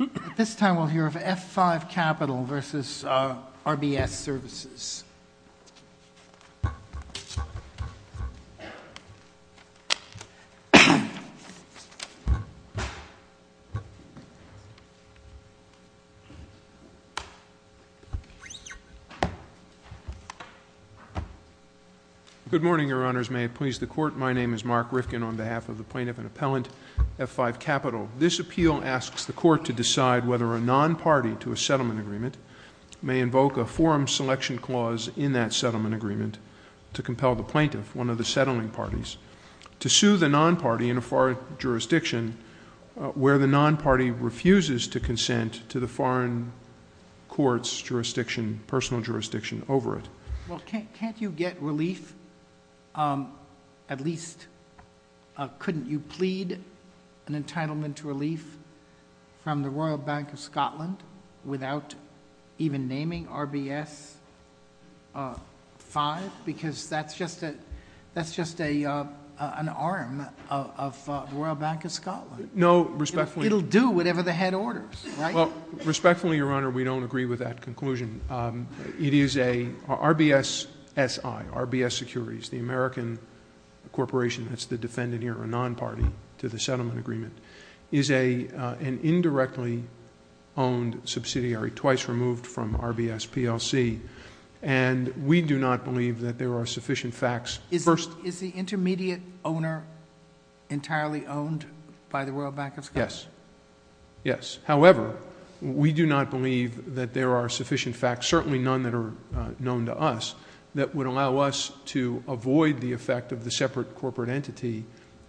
At this time we'll hear of F5 Capital v. RBS Services. Good morning, Your Honors. May it please the Court? My name is Mark Rifkin on behalf of the plaintiff and appellant, F5 Capital. This appeal asks the Court to decide whether a non-party to a settlement agreement may invoke a forum selection clause in that settlement agreement to compel the plaintiff, one of the settling parties, to sue the non-party in a foreign jurisdiction where the non-party refuses to consent to the foreign court's jurisdiction, personal jurisdiction, over it. Well, can't you get relief, at least couldn't you plead an entitlement to relief from the Royal Bank of Scotland without even naming RBS 5? Because that's just an arm of the Royal Bank of Scotland. No, respectfully... It'll do whatever the head orders, right? Well, respectfully, Your Honor, we don't agree with that conclusion. It is a... RBS SI, RBS Securities, the American corporation, that's the defendant here, a non-party to the settlement agreement, is an indirectly owned subsidiary, twice removed from RBS PLC, and we do not believe that there are sufficient facts... Is the intermediate owner entirely owned by the Royal Bank of Scotland? Yes. Yes. However, we do not believe that there are sufficient facts, certainly none that are known to us, that would allow us to avoid the effect of the separate corporate entity,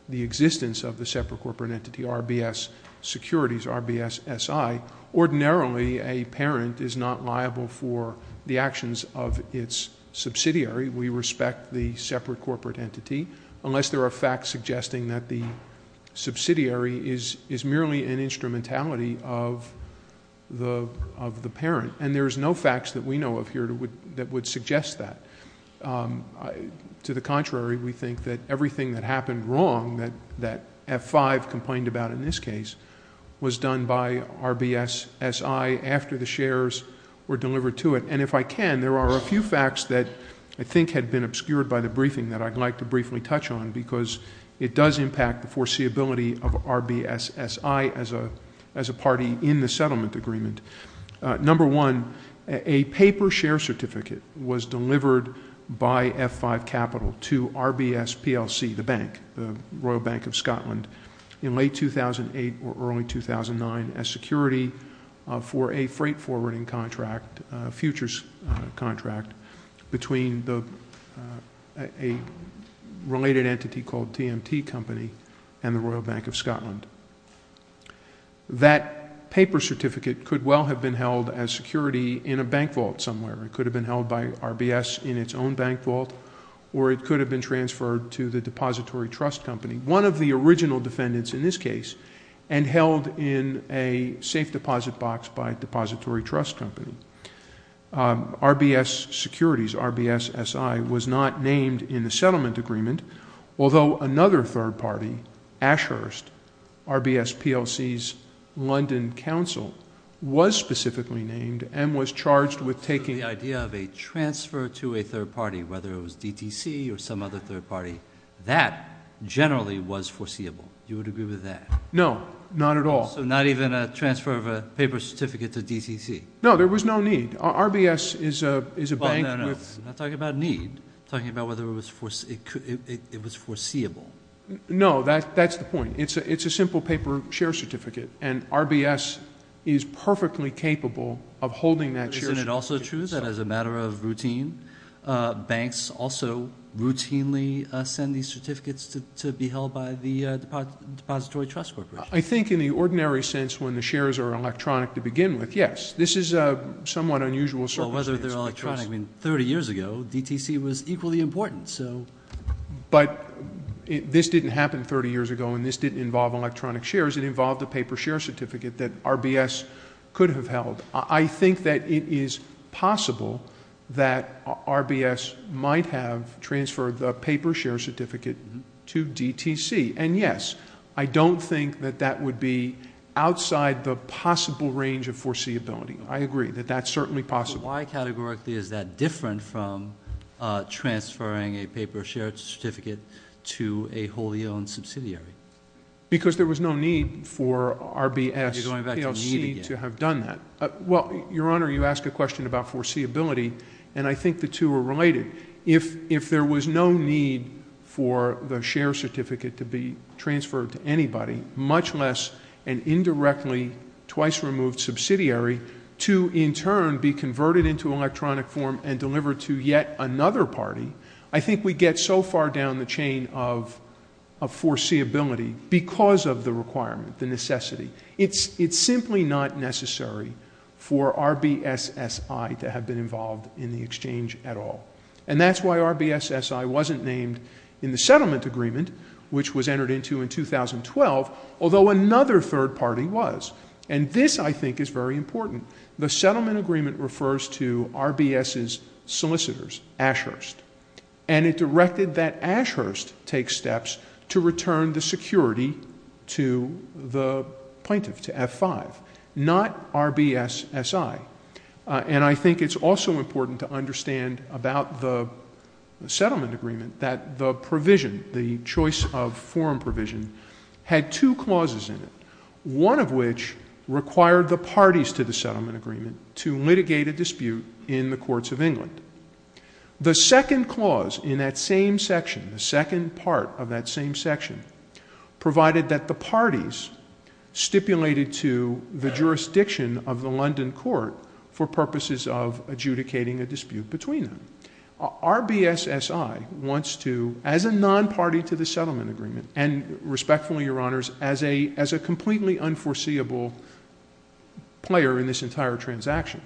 the existence of the separate corporate entity, RBS Securities, RBS SI. Ordinarily, a parent is not liable for the actions of its subsidiary. We respect the separate corporate entity, unless there are facts suggesting that the subsidiary is merely an instrumentality of the parent. And there's no facts that we know of here that would suggest that. To the contrary, we think that everything that happened wrong, that F5 complained about in this case, was done by RBS SI after the shares were delivered to it. And if I can, there are a few facts that I think had been obscured by the briefing that I'd like to briefly touch on, because it does impact the foreseeability of RBS SI as a party in the settlement agreement. Number one, a paper share certificate was delivered by F5 Capital to RBS PLC, the bank, the Royal Bank of Scotland, in late 2008 or early 2009 as security for a freight forwarding contract, a futures contract, between a related entity called TMT Company and the Royal Bank of Scotland. That paper certificate could well have been held as security in a bank vault somewhere. It could have been held by RBS in its own bank vault, or it could have been transferred to the Depository Trust Company, one of the original defendants in this case, and held in a safe deposit box by a Depository Trust Company. RBS Securities, RBS SI, was not named in the settlement agreement, although another third party, Ashurst, RBS PLC's London Council, was specifically named and was charged with taking The idea of a transfer to a third party, whether it was DTC or some other third party, that generally was foreseeable. You would agree with that? No, not at all. So not even a transfer of a paper certificate to DTC? No, there was no need. RBS is a bank with... No, no, no. I'm not talking about need. I'm talking about whether it was foreseeable. No, that's the point. It's a simple paper share certificate, and RBS is perfectly capable of holding that share certificate. Isn't it also true that as a matter of routine, banks also routinely send these certificates to be held by the Depository Trust Corporation? I think in the ordinary sense, when the shares are electronic to begin with, yes. This is a somewhat unusual circumstance. Well, whether they're electronic. I mean, 30 years ago, DTC was equally important. But this didn't happen 30 years ago, and this didn't involve electronic shares. It involved a paper share certificate that RBS could have held. I think that it is possible that RBS might have transferred the paper share certificate to DTC. And, yes, I don't think that that would be outside the possible range of foreseeability. I agree that that's certainly possible. Why categorically is that different from transferring a paper share certificate to a wholly owned subsidiary? Because there was no need for RBS PLC to have done that. Well, Your Honor, you ask a question about foreseeability, and I think the two are related. If there was no need for the share certificate to be transferred to anybody, much less an indirectly twice-removed subsidiary, to in turn be converted into electronic form and delivered to yet another party, I think we get so far down the chain of foreseeability because of the requirement, the necessity. It's simply not necessary for RBS SI to have been involved in the exchange at all. And that's why RBS SI wasn't named in the settlement agreement, which was entered into in 2012, although another third party was. And this, I think, is very important. The settlement agreement refers to RBS's solicitors, Ashurst, and it directed that Ashurst take steps to return the security to the plaintiff, to F5, not RBS SI. And I think it's also important to understand about the settlement agreement that the provision, the choice of forum provision, had two clauses in it, one of which required the parties to the settlement agreement to litigate a dispute in the courts of England. The second clause in that same section, the second part of that same section, provided that the parties stipulated to the jurisdiction of the London court for purposes of adjudicating a dispute between them. RBS SI wants to, as a non-party to the settlement agreement, and respectfully, Your Honors, as a completely unforeseeable player in this entire transaction,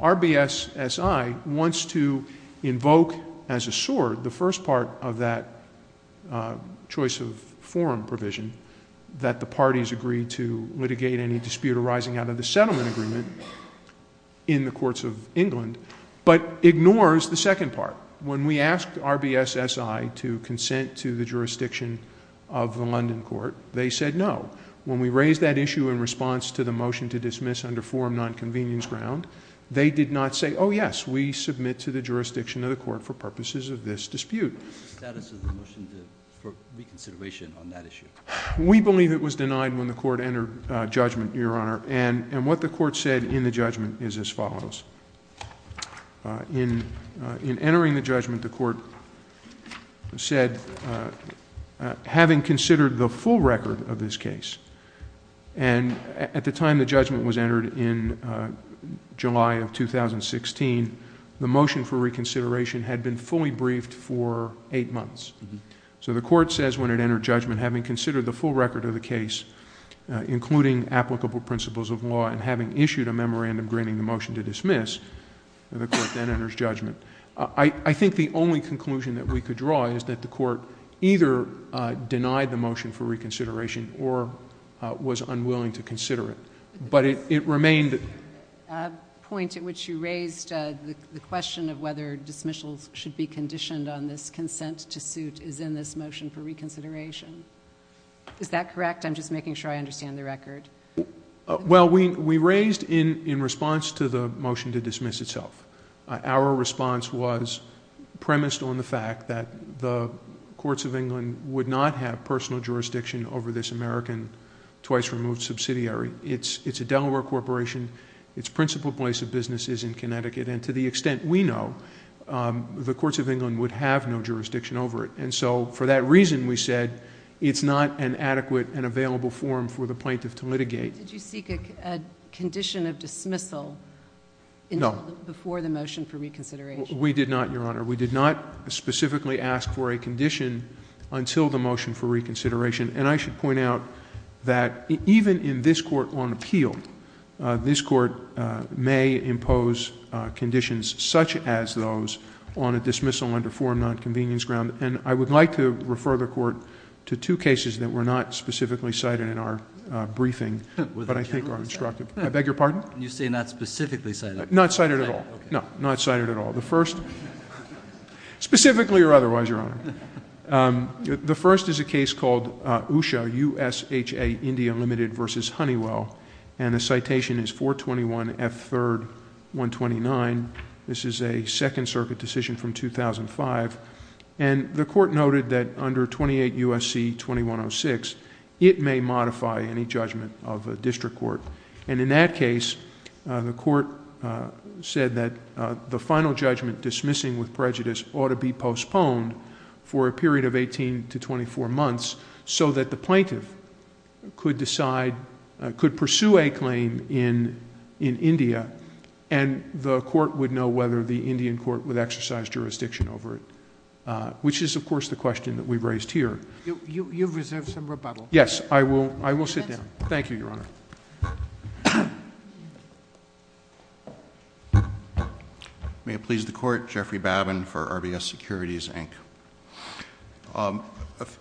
RBS SI wants to invoke as a sword the first part of that choice of forum provision, that the parties agree to litigate any dispute arising out of the settlement agreement in the courts of England, but ignores the second part. When we asked RBS SI to consent to the jurisdiction of the London court, they said no. When we raised that issue in response to the motion to dismiss under forum nonconvenience ground, they did not say, oh, yes, we submit to the jurisdiction of the court for purposes of this dispute. What is the status of the motion for reconsideration on that issue? We believe it was denied when the court entered judgment, Your Honor. And what the court said in the judgment is as follows. In entering the judgment, the court said, having considered the full record of this case, and at the time the judgment was entered in July of 2016, the motion for reconsideration had been fully briefed for eight months. So the court says when it entered judgment, having considered the full record of the case, including applicable principles of law, and having issued a memorandum granting the motion to dismiss, the court then enters judgment. I think the only conclusion that we could draw is that the court either denied the motion for reconsideration or was unwilling to consider it. But it remained. The point at which you raised the question of whether dismissals should be conditioned on this consent to suit is in this motion for reconsideration. Is that correct? I'm just making sure I understand the record. Well, we raised in response to the motion to dismiss itself. Our response was premised on the fact that the courts of England would not have personal jurisdiction over this American twice-removed subsidiary. It's a Delaware corporation. Its principal place of business is in Connecticut. And to the extent we know, the courts of England would have no jurisdiction over it. And so for that reason, we said it's not an adequate and available forum for the plaintiff to litigate. Did you seek a condition of dismissal before the motion for reconsideration? We did not, Your Honor. We did not specifically ask for a condition until the motion for reconsideration. And I should point out that even in this court on appeal, this court may impose conditions such as those on a dismissal under forum nonconvenience ground. And I would like to refer the Court to two cases that were not specifically cited in our briefing, but I think are instructive. I beg your pardon? You say not specifically cited. Not cited at all. No, not cited at all. The first, specifically or otherwise, Your Honor, the first is a case called USHA, USHA India Limited v. Honeywell. And the citation is 421F3-129. This is a Second Circuit decision from 2005. And the court noted that under 28 U.S.C. 2106, it may modify any judgment of a district court. And in that case, the court said that the final judgment dismissing with prejudice ought to be postponed for a period of 18 to 24 months so that the plaintiff could decide, could pursue a claim in India. And the court would know whether the Indian court would exercise jurisdiction over it, which is, of course, the question that we've raised here. You've reserved some rebuttal. Yes. I will sit down. Thank you, Your Honor. May it please the Court, Jeffrey Babin for RBS Securities, Inc.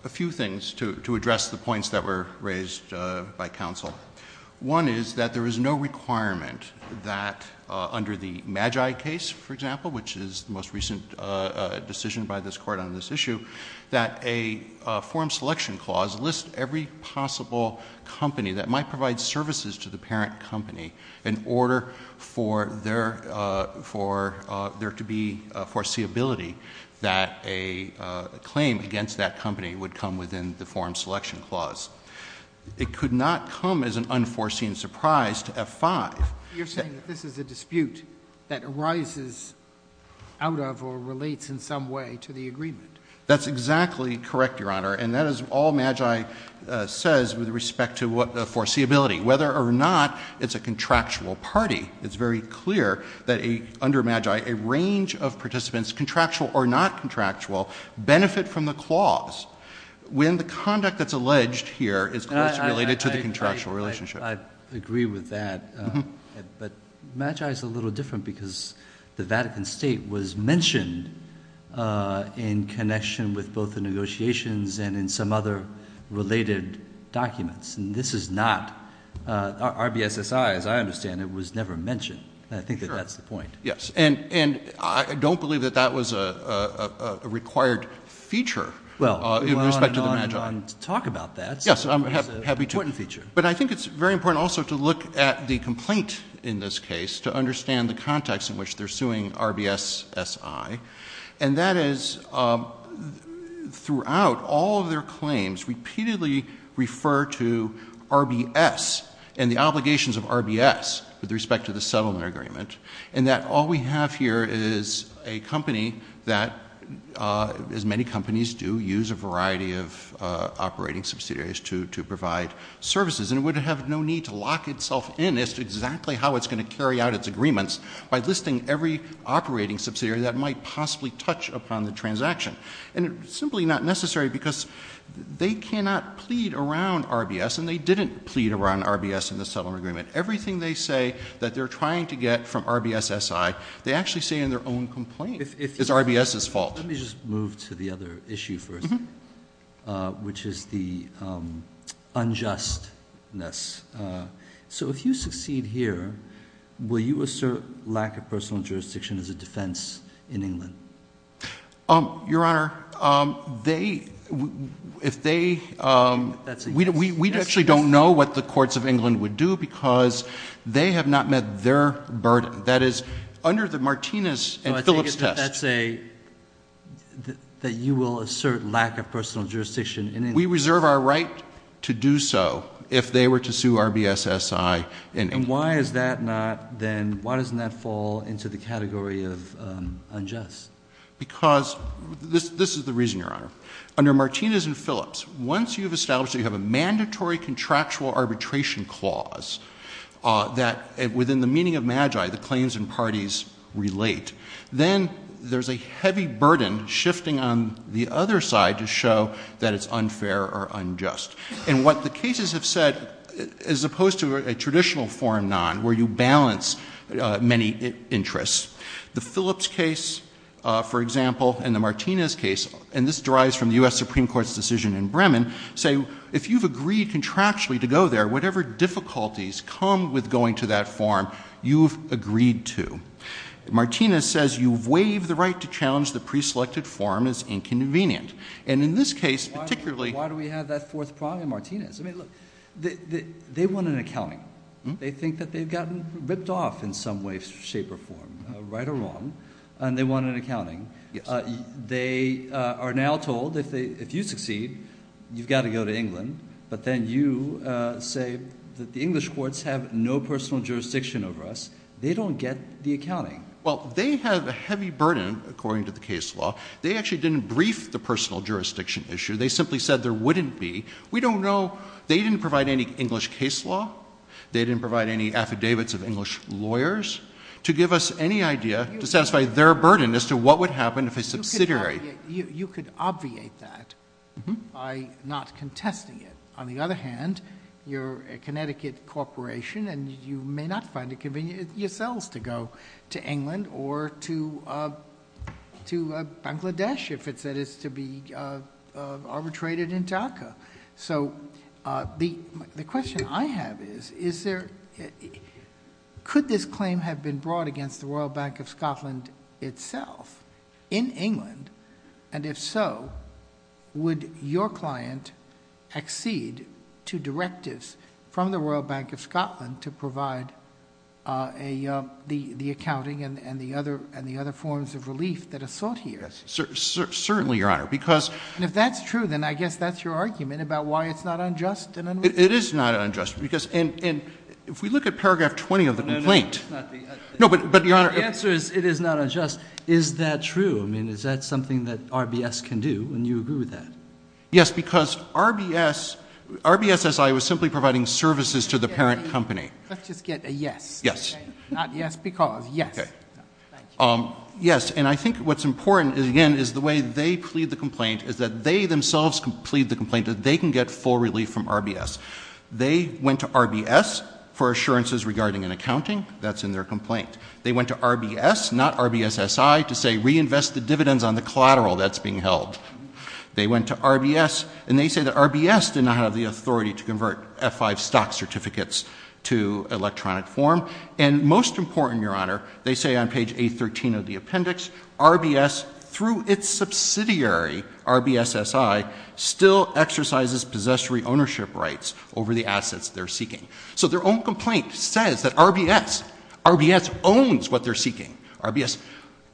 A few things to address the points that were raised by counsel. One is that there is no requirement that under the Magi case, for example, which is the most recent decision by this court on this issue, that a form selection clause lists every possible company that might provide services to the parent company in order for there to be foreseeability that a claim against that company would come within the form selection clause. It could not come as an unforeseen surprise to F5. You're saying that this is a dispute that arises out of or relates in some way to the agreement. That's exactly correct, Your Honor, and that is all Magi says with respect to the foreseeability. Whether or not it's a contractual party, it's very clear that under Magi, a range of participants, contractual or not contractual, benefit from the clause. When the conduct that's alleged here is, of course, related to the contractual relationship. I agree with that. But Magi is a little different because the Vatican State was mentioned in connection with both the negotiations and in some other related documents, and this is not. RBSSI, as I understand it, was never mentioned, and I think that that's the point. Yes, and I don't believe that that was a required feature in respect to the Magi. Well, we'll go on and on to talk about that. Yes, I'm happy to. It's an important feature. But I think it's very important also to look at the complaint in this case to understand the context in which they're suing RBSSI, and that is throughout, all of their claims repeatedly refer to RBS and the obligations of RBS with respect to the settlement agreement, and that all we have here is a company that, as many companies do, use a variety of operating subsidiaries to provide services, and it would have no need to lock itself in as to exactly how it's going to carry out its agreements by listing every operating subsidiary that might possibly touch upon the transaction. And it's simply not necessary because they cannot plead around RBS, and they didn't plead around RBS in the settlement agreement. Everything they say that they're trying to get from RBSSI, they actually say in their own complaint. It's RBS's fault. Let me just move to the other issue first, which is the unjustness. So if you succeed here, will you assert lack of personal jurisdiction as a defense in England? Your Honor, they, if they, we actually don't know what the courts of England would do because they have not met their burden. That is, under the Martinez and Phillips test. So I take it that that's a, that you will assert lack of personal jurisdiction in England. We reserve our right to do so if they were to sue RBSSI in England. And why is that not then, why doesn't that fall into the category of unjust? Because, this is the reason, Your Honor. Under Martinez and Phillips, once you've established that you have a mandatory contractual arbitration clause, that within the meaning of magi, the claims and parties relate, then there's a heavy burden shifting on the other side to show that it's unfair or unjust. And what the cases have said, as opposed to a traditional forum non, where you balance many interests, the Phillips case, for example, and the Martinez case, and this derives from the U.S. Supreme Court's decision in Bremen, say, if you've agreed contractually to go there, whatever difficulties come with going to that forum, you've agreed to. Martinez says you've waived the right to challenge the preselected forum as inconvenient. And in this case, particularly— Why do we have that fourth prong in Martinez? I mean, look, they want an accounting. They think that they've gotten ripped off in some way, shape, or form, right or wrong, and they want an accounting. They are now told, if you succeed, you've got to go to England. But then you say that the English courts have no personal jurisdiction over us. They don't get the accounting. Well, they have a heavy burden, according to the case law. They actually didn't brief the personal jurisdiction issue. They simply said there wouldn't be. We don't know. They didn't provide any English case law. They didn't provide any affidavits of English lawyers to give us any idea to satisfy their burden as to what would happen if a subsidiary— You could obviate that by not contesting it. On the other hand, you're a Connecticut corporation, and you may not find it convenient yourselves to go to England or to Bangladesh if it's to be arbitrated in DACA. So the question I have is, could this claim have been brought against the Royal Bank of Scotland itself in England? And if so, would your client accede to directives from the Royal Bank of Scotland to provide the accounting and the other forms of relief that are sought here? Certainly, Your Honor, because— It is not unjust. And if we look at paragraph 20 of the complaint— The answer is it is not unjust. Is that true? I mean, is that something that RBS can do, and you agree with that? Yes, because RBS—RBSSI was simply providing services to the parent company. Let's just get a yes. Yes. Not yes because. Yes. Thank you. Yes, and I think what's important, again, is the way they plead the complaint is that they themselves plead the complaint that they can get full relief from RBS. They went to RBS for assurances regarding an accounting. That's in their complaint. They went to RBS, not RBSSI, to say reinvest the dividends on the collateral that's being held. They went to RBS, and they say that RBS did not have the authority to convert F-5 stock certificates to electronic form. And most important, Your Honor, they say on page 813 of the appendix, RBS, through its subsidiary, RBSSI, still exercises possessory ownership rights over the assets they're seeking. So their own complaint says that RBS—RBS owns what they're seeking.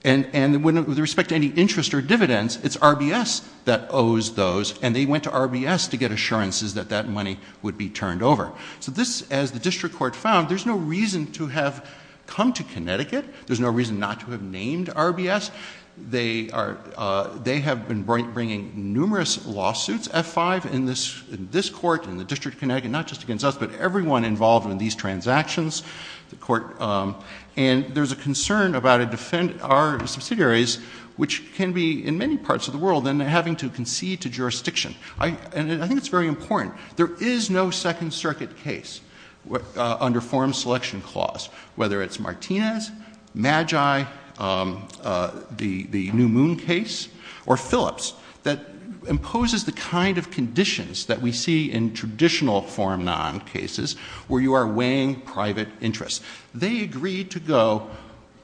And with respect to any interest or dividends, it's RBS that owes those, and they went to RBS to get assurances that that money would be turned over. So this, as the district court found, there's no reason to have come to Connecticut. There's no reason not to have named RBS. They have been bringing numerous lawsuits, F-5, in this court, in the District of Connecticut, not just against us, but everyone involved in these transactions. And there's a concern about our subsidiaries, which can be in many parts of the world, and having to concede to jurisdiction. And I think it's very important. There is no Second Circuit case under Form Selection Clause, whether it's Martinez, Magi, the New Moon case, or Phillips, that imposes the kind of conditions that we see in traditional Form Non cases, where you are weighing private interests. They agreed to go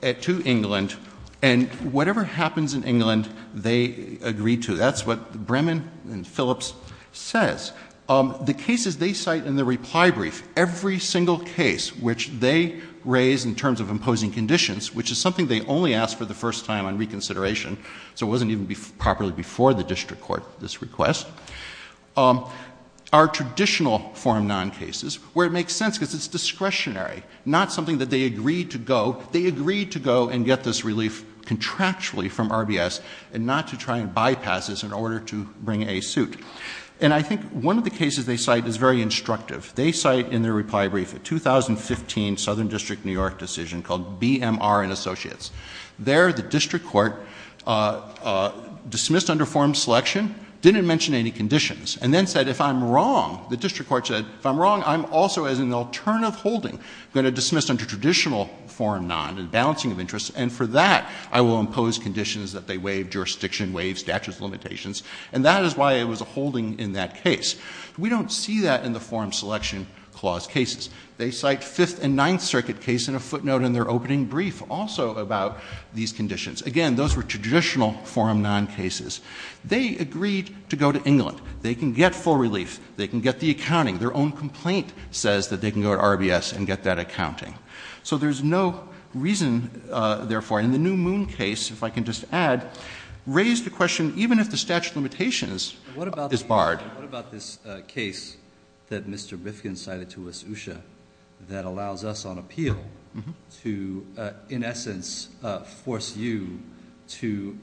to England, and whatever happens in England, they agree to. That's what Bremen and Phillips says. The cases they cite in the reply brief, every single case which they raise in terms of imposing conditions, which is something they only asked for the first time on reconsideration, so it wasn't even properly before the district court, this request, are traditional Form Non cases, where it makes sense because it's discretionary, not something that they agreed to go. And get this relief contractually from RBS, and not to try and bypass this in order to bring a suit. And I think one of the cases they cite is very instructive. They cite in their reply brief a 2015 Southern District New York decision called BMR and Associates. There, the district court dismissed under Form Selection, didn't mention any conditions, and then said, if I'm wrong, the district court said, if I'm wrong, I'm also, as an alternative holding, going to dismiss under traditional Form Non and balancing of interests, and for that, I will impose conditions that they waive jurisdiction, waive statutes of limitations, and that is why it was a holding in that case. We don't see that in the Form Selection Clause cases. They cite Fifth and Ninth Circuit case in a footnote in their opening brief also about these conditions. Again, those were traditional Form Non cases. They agreed to go to England. They can get full relief. They can get the accounting. Their own complaint says that they can go to RBS and get that accounting. So there's no reason, therefore, in the New Moon case, if I can just add, raise the question, even if the statute of limitations is barred. What about this case that Mr. Bifkin cited to us, Usha, that allows us on appeal to, in essence, force you to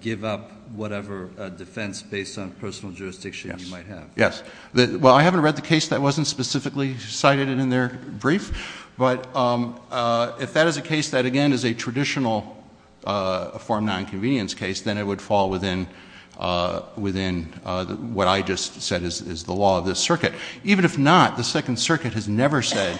give up whatever defense based on personal jurisdiction you might have? Yes. Well, I haven't read the case that wasn't specifically cited in their brief, but if that is a case that, again, is a traditional Form Nonconvenience case, then it would fall within what I just said is the law of this circuit. Even if not, the Second Circuit has never said,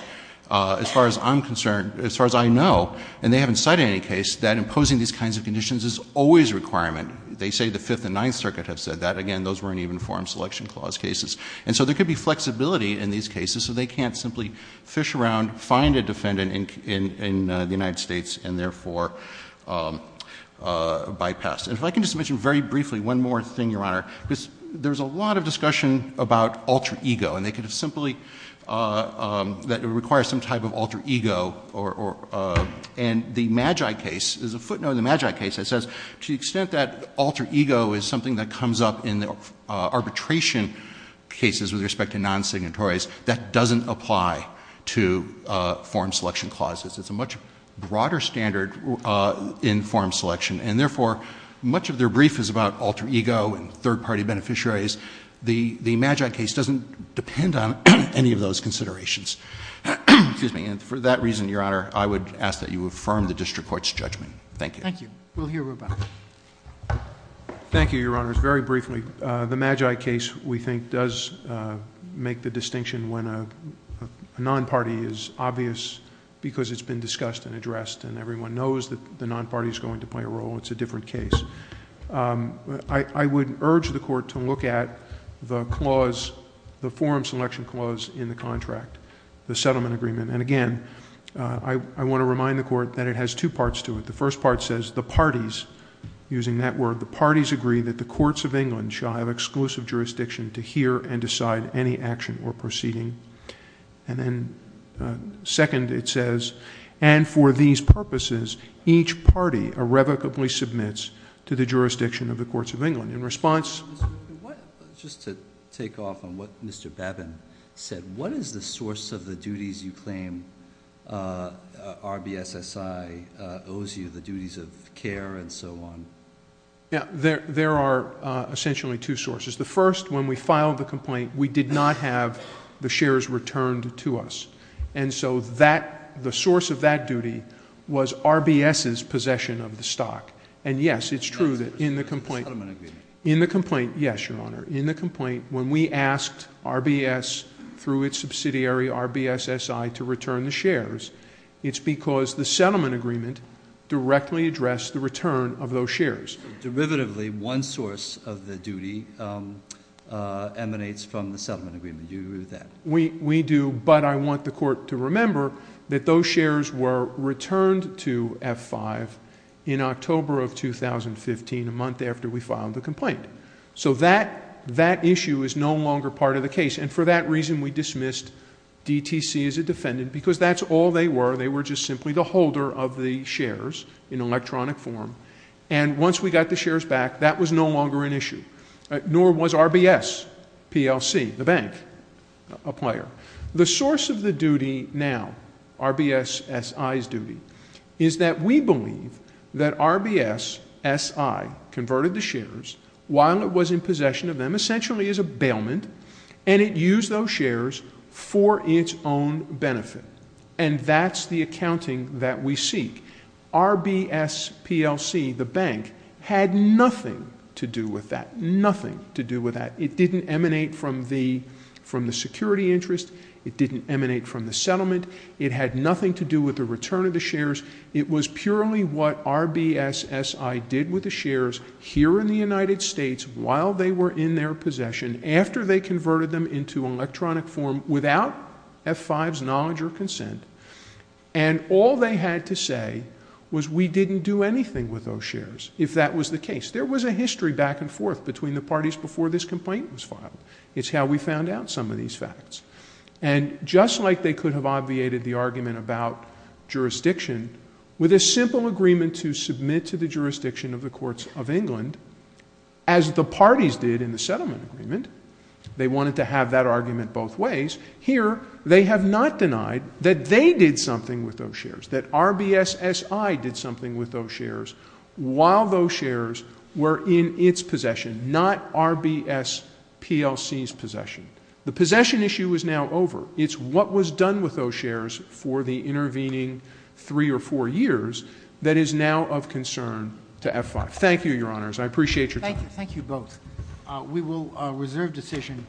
as far as I'm concerned, as far as I know, and they haven't cited any case, that imposing these kinds of conditions is always a requirement. They say the Fifth and Ninth Circuit have said that. Again, those weren't even Form Selection Clause cases. And so there could be flexibility in these cases, so they can't simply fish around, find a defendant in the United States, and therefore bypass. And if I can just mention very briefly one more thing, Your Honor, because there's a lot of discussion about alter ego, and they could have simply, that it requires some type of alter ego, and the Magi case is a footnote in the Magi case that says to the extent that alter ego is something that comes up in arbitration cases with respect to non-signatories, that doesn't apply to Form Selection Clauses. It's a much broader standard in Form Selection, and therefore, much of their brief is about alter ego and third-party beneficiaries. The Magi case doesn't depend on any of those considerations. And for that reason, Your Honor, I would ask that you affirm the district court's judgment. Thank you. We'll hear about it. Thank you, Your Honors. Very briefly, the Magi case, we think, does make the distinction when a non-party is obvious because it's been discussed and addressed, and everyone knows that the non-party is going to play a role. It's a different case. I would urge the Court to look at the clause, the Form Selection Clause in the contract, the settlement agreement. And again, I want to remind the Court that it has two parts to it. The first part says, the parties, using that word, the parties agree that the courts of England shall have exclusive jurisdiction to hear and decide any action or proceeding. And then second, it says, and for these purposes, each party irrevocably submits to the jurisdiction of the courts of England. Just to take off on what Mr. Babin said, what is the source of the duties you claim RBSSI owes you, the duties of care and so on? There are essentially two sources. The first, when we filed the complaint, we did not have the shares returned to us. And so the source of that duty was RBS's possession of the stock. And yes, it's true that in the complaint, in the complaint, yes, Your Honor, in the complaint, when we asked RBS through its subsidiary, RBSSI, to return the shares, it's because the settlement agreement directly addressed the return of those shares. Derivatively, one source of the duty emanates from the settlement agreement. Do you agree with that? We do, but I want the court to remember that those shares were returned to F5 in October of 2015, a month after we filed the complaint. So that issue is no longer part of the case. And for that reason, we dismissed DTC as a defendant because that's all they were. They were just simply the holder of the shares in electronic form. And once we got the shares back, that was no longer an issue. Nor was RBS, PLC, the bank, a player. The source of the duty now, RBSSI's duty, is that we believe that RBSSI converted the shares while it was in possession of them, essentially as a bailment, and it used those shares for its own benefit. And that's the accounting that we seek. RBS, PLC, the bank, had nothing to do with that. Nothing to do with that. It didn't emanate from the security interest. It didn't emanate from the settlement. It had nothing to do with the return of the shares. It was purely what RBSSI did with the shares here in the United States while they were in their possession, after they converted them into electronic form without F5's knowledge or consent. And all they had to say was we didn't do anything with those shares if that was the case. There was a history back and forth between the parties before this complaint was filed. It's how we found out some of these facts. And just like they could have obviated the argument about jurisdiction with a simple agreement to submit to the jurisdiction of the courts of England, as the parties did in the settlement agreement, they wanted to have that argument both ways. Here, they have not denied that they did something with those shares, that RBSSI did something with those shares while those shares were in its possession, not RBSPLC's possession. The possession issue is now over. It's what was done with those shares for the intervening three or four years that is now of concern to F5. Thank you, Your Honors. I appreciate your time. Thank you both. We will reserve decision.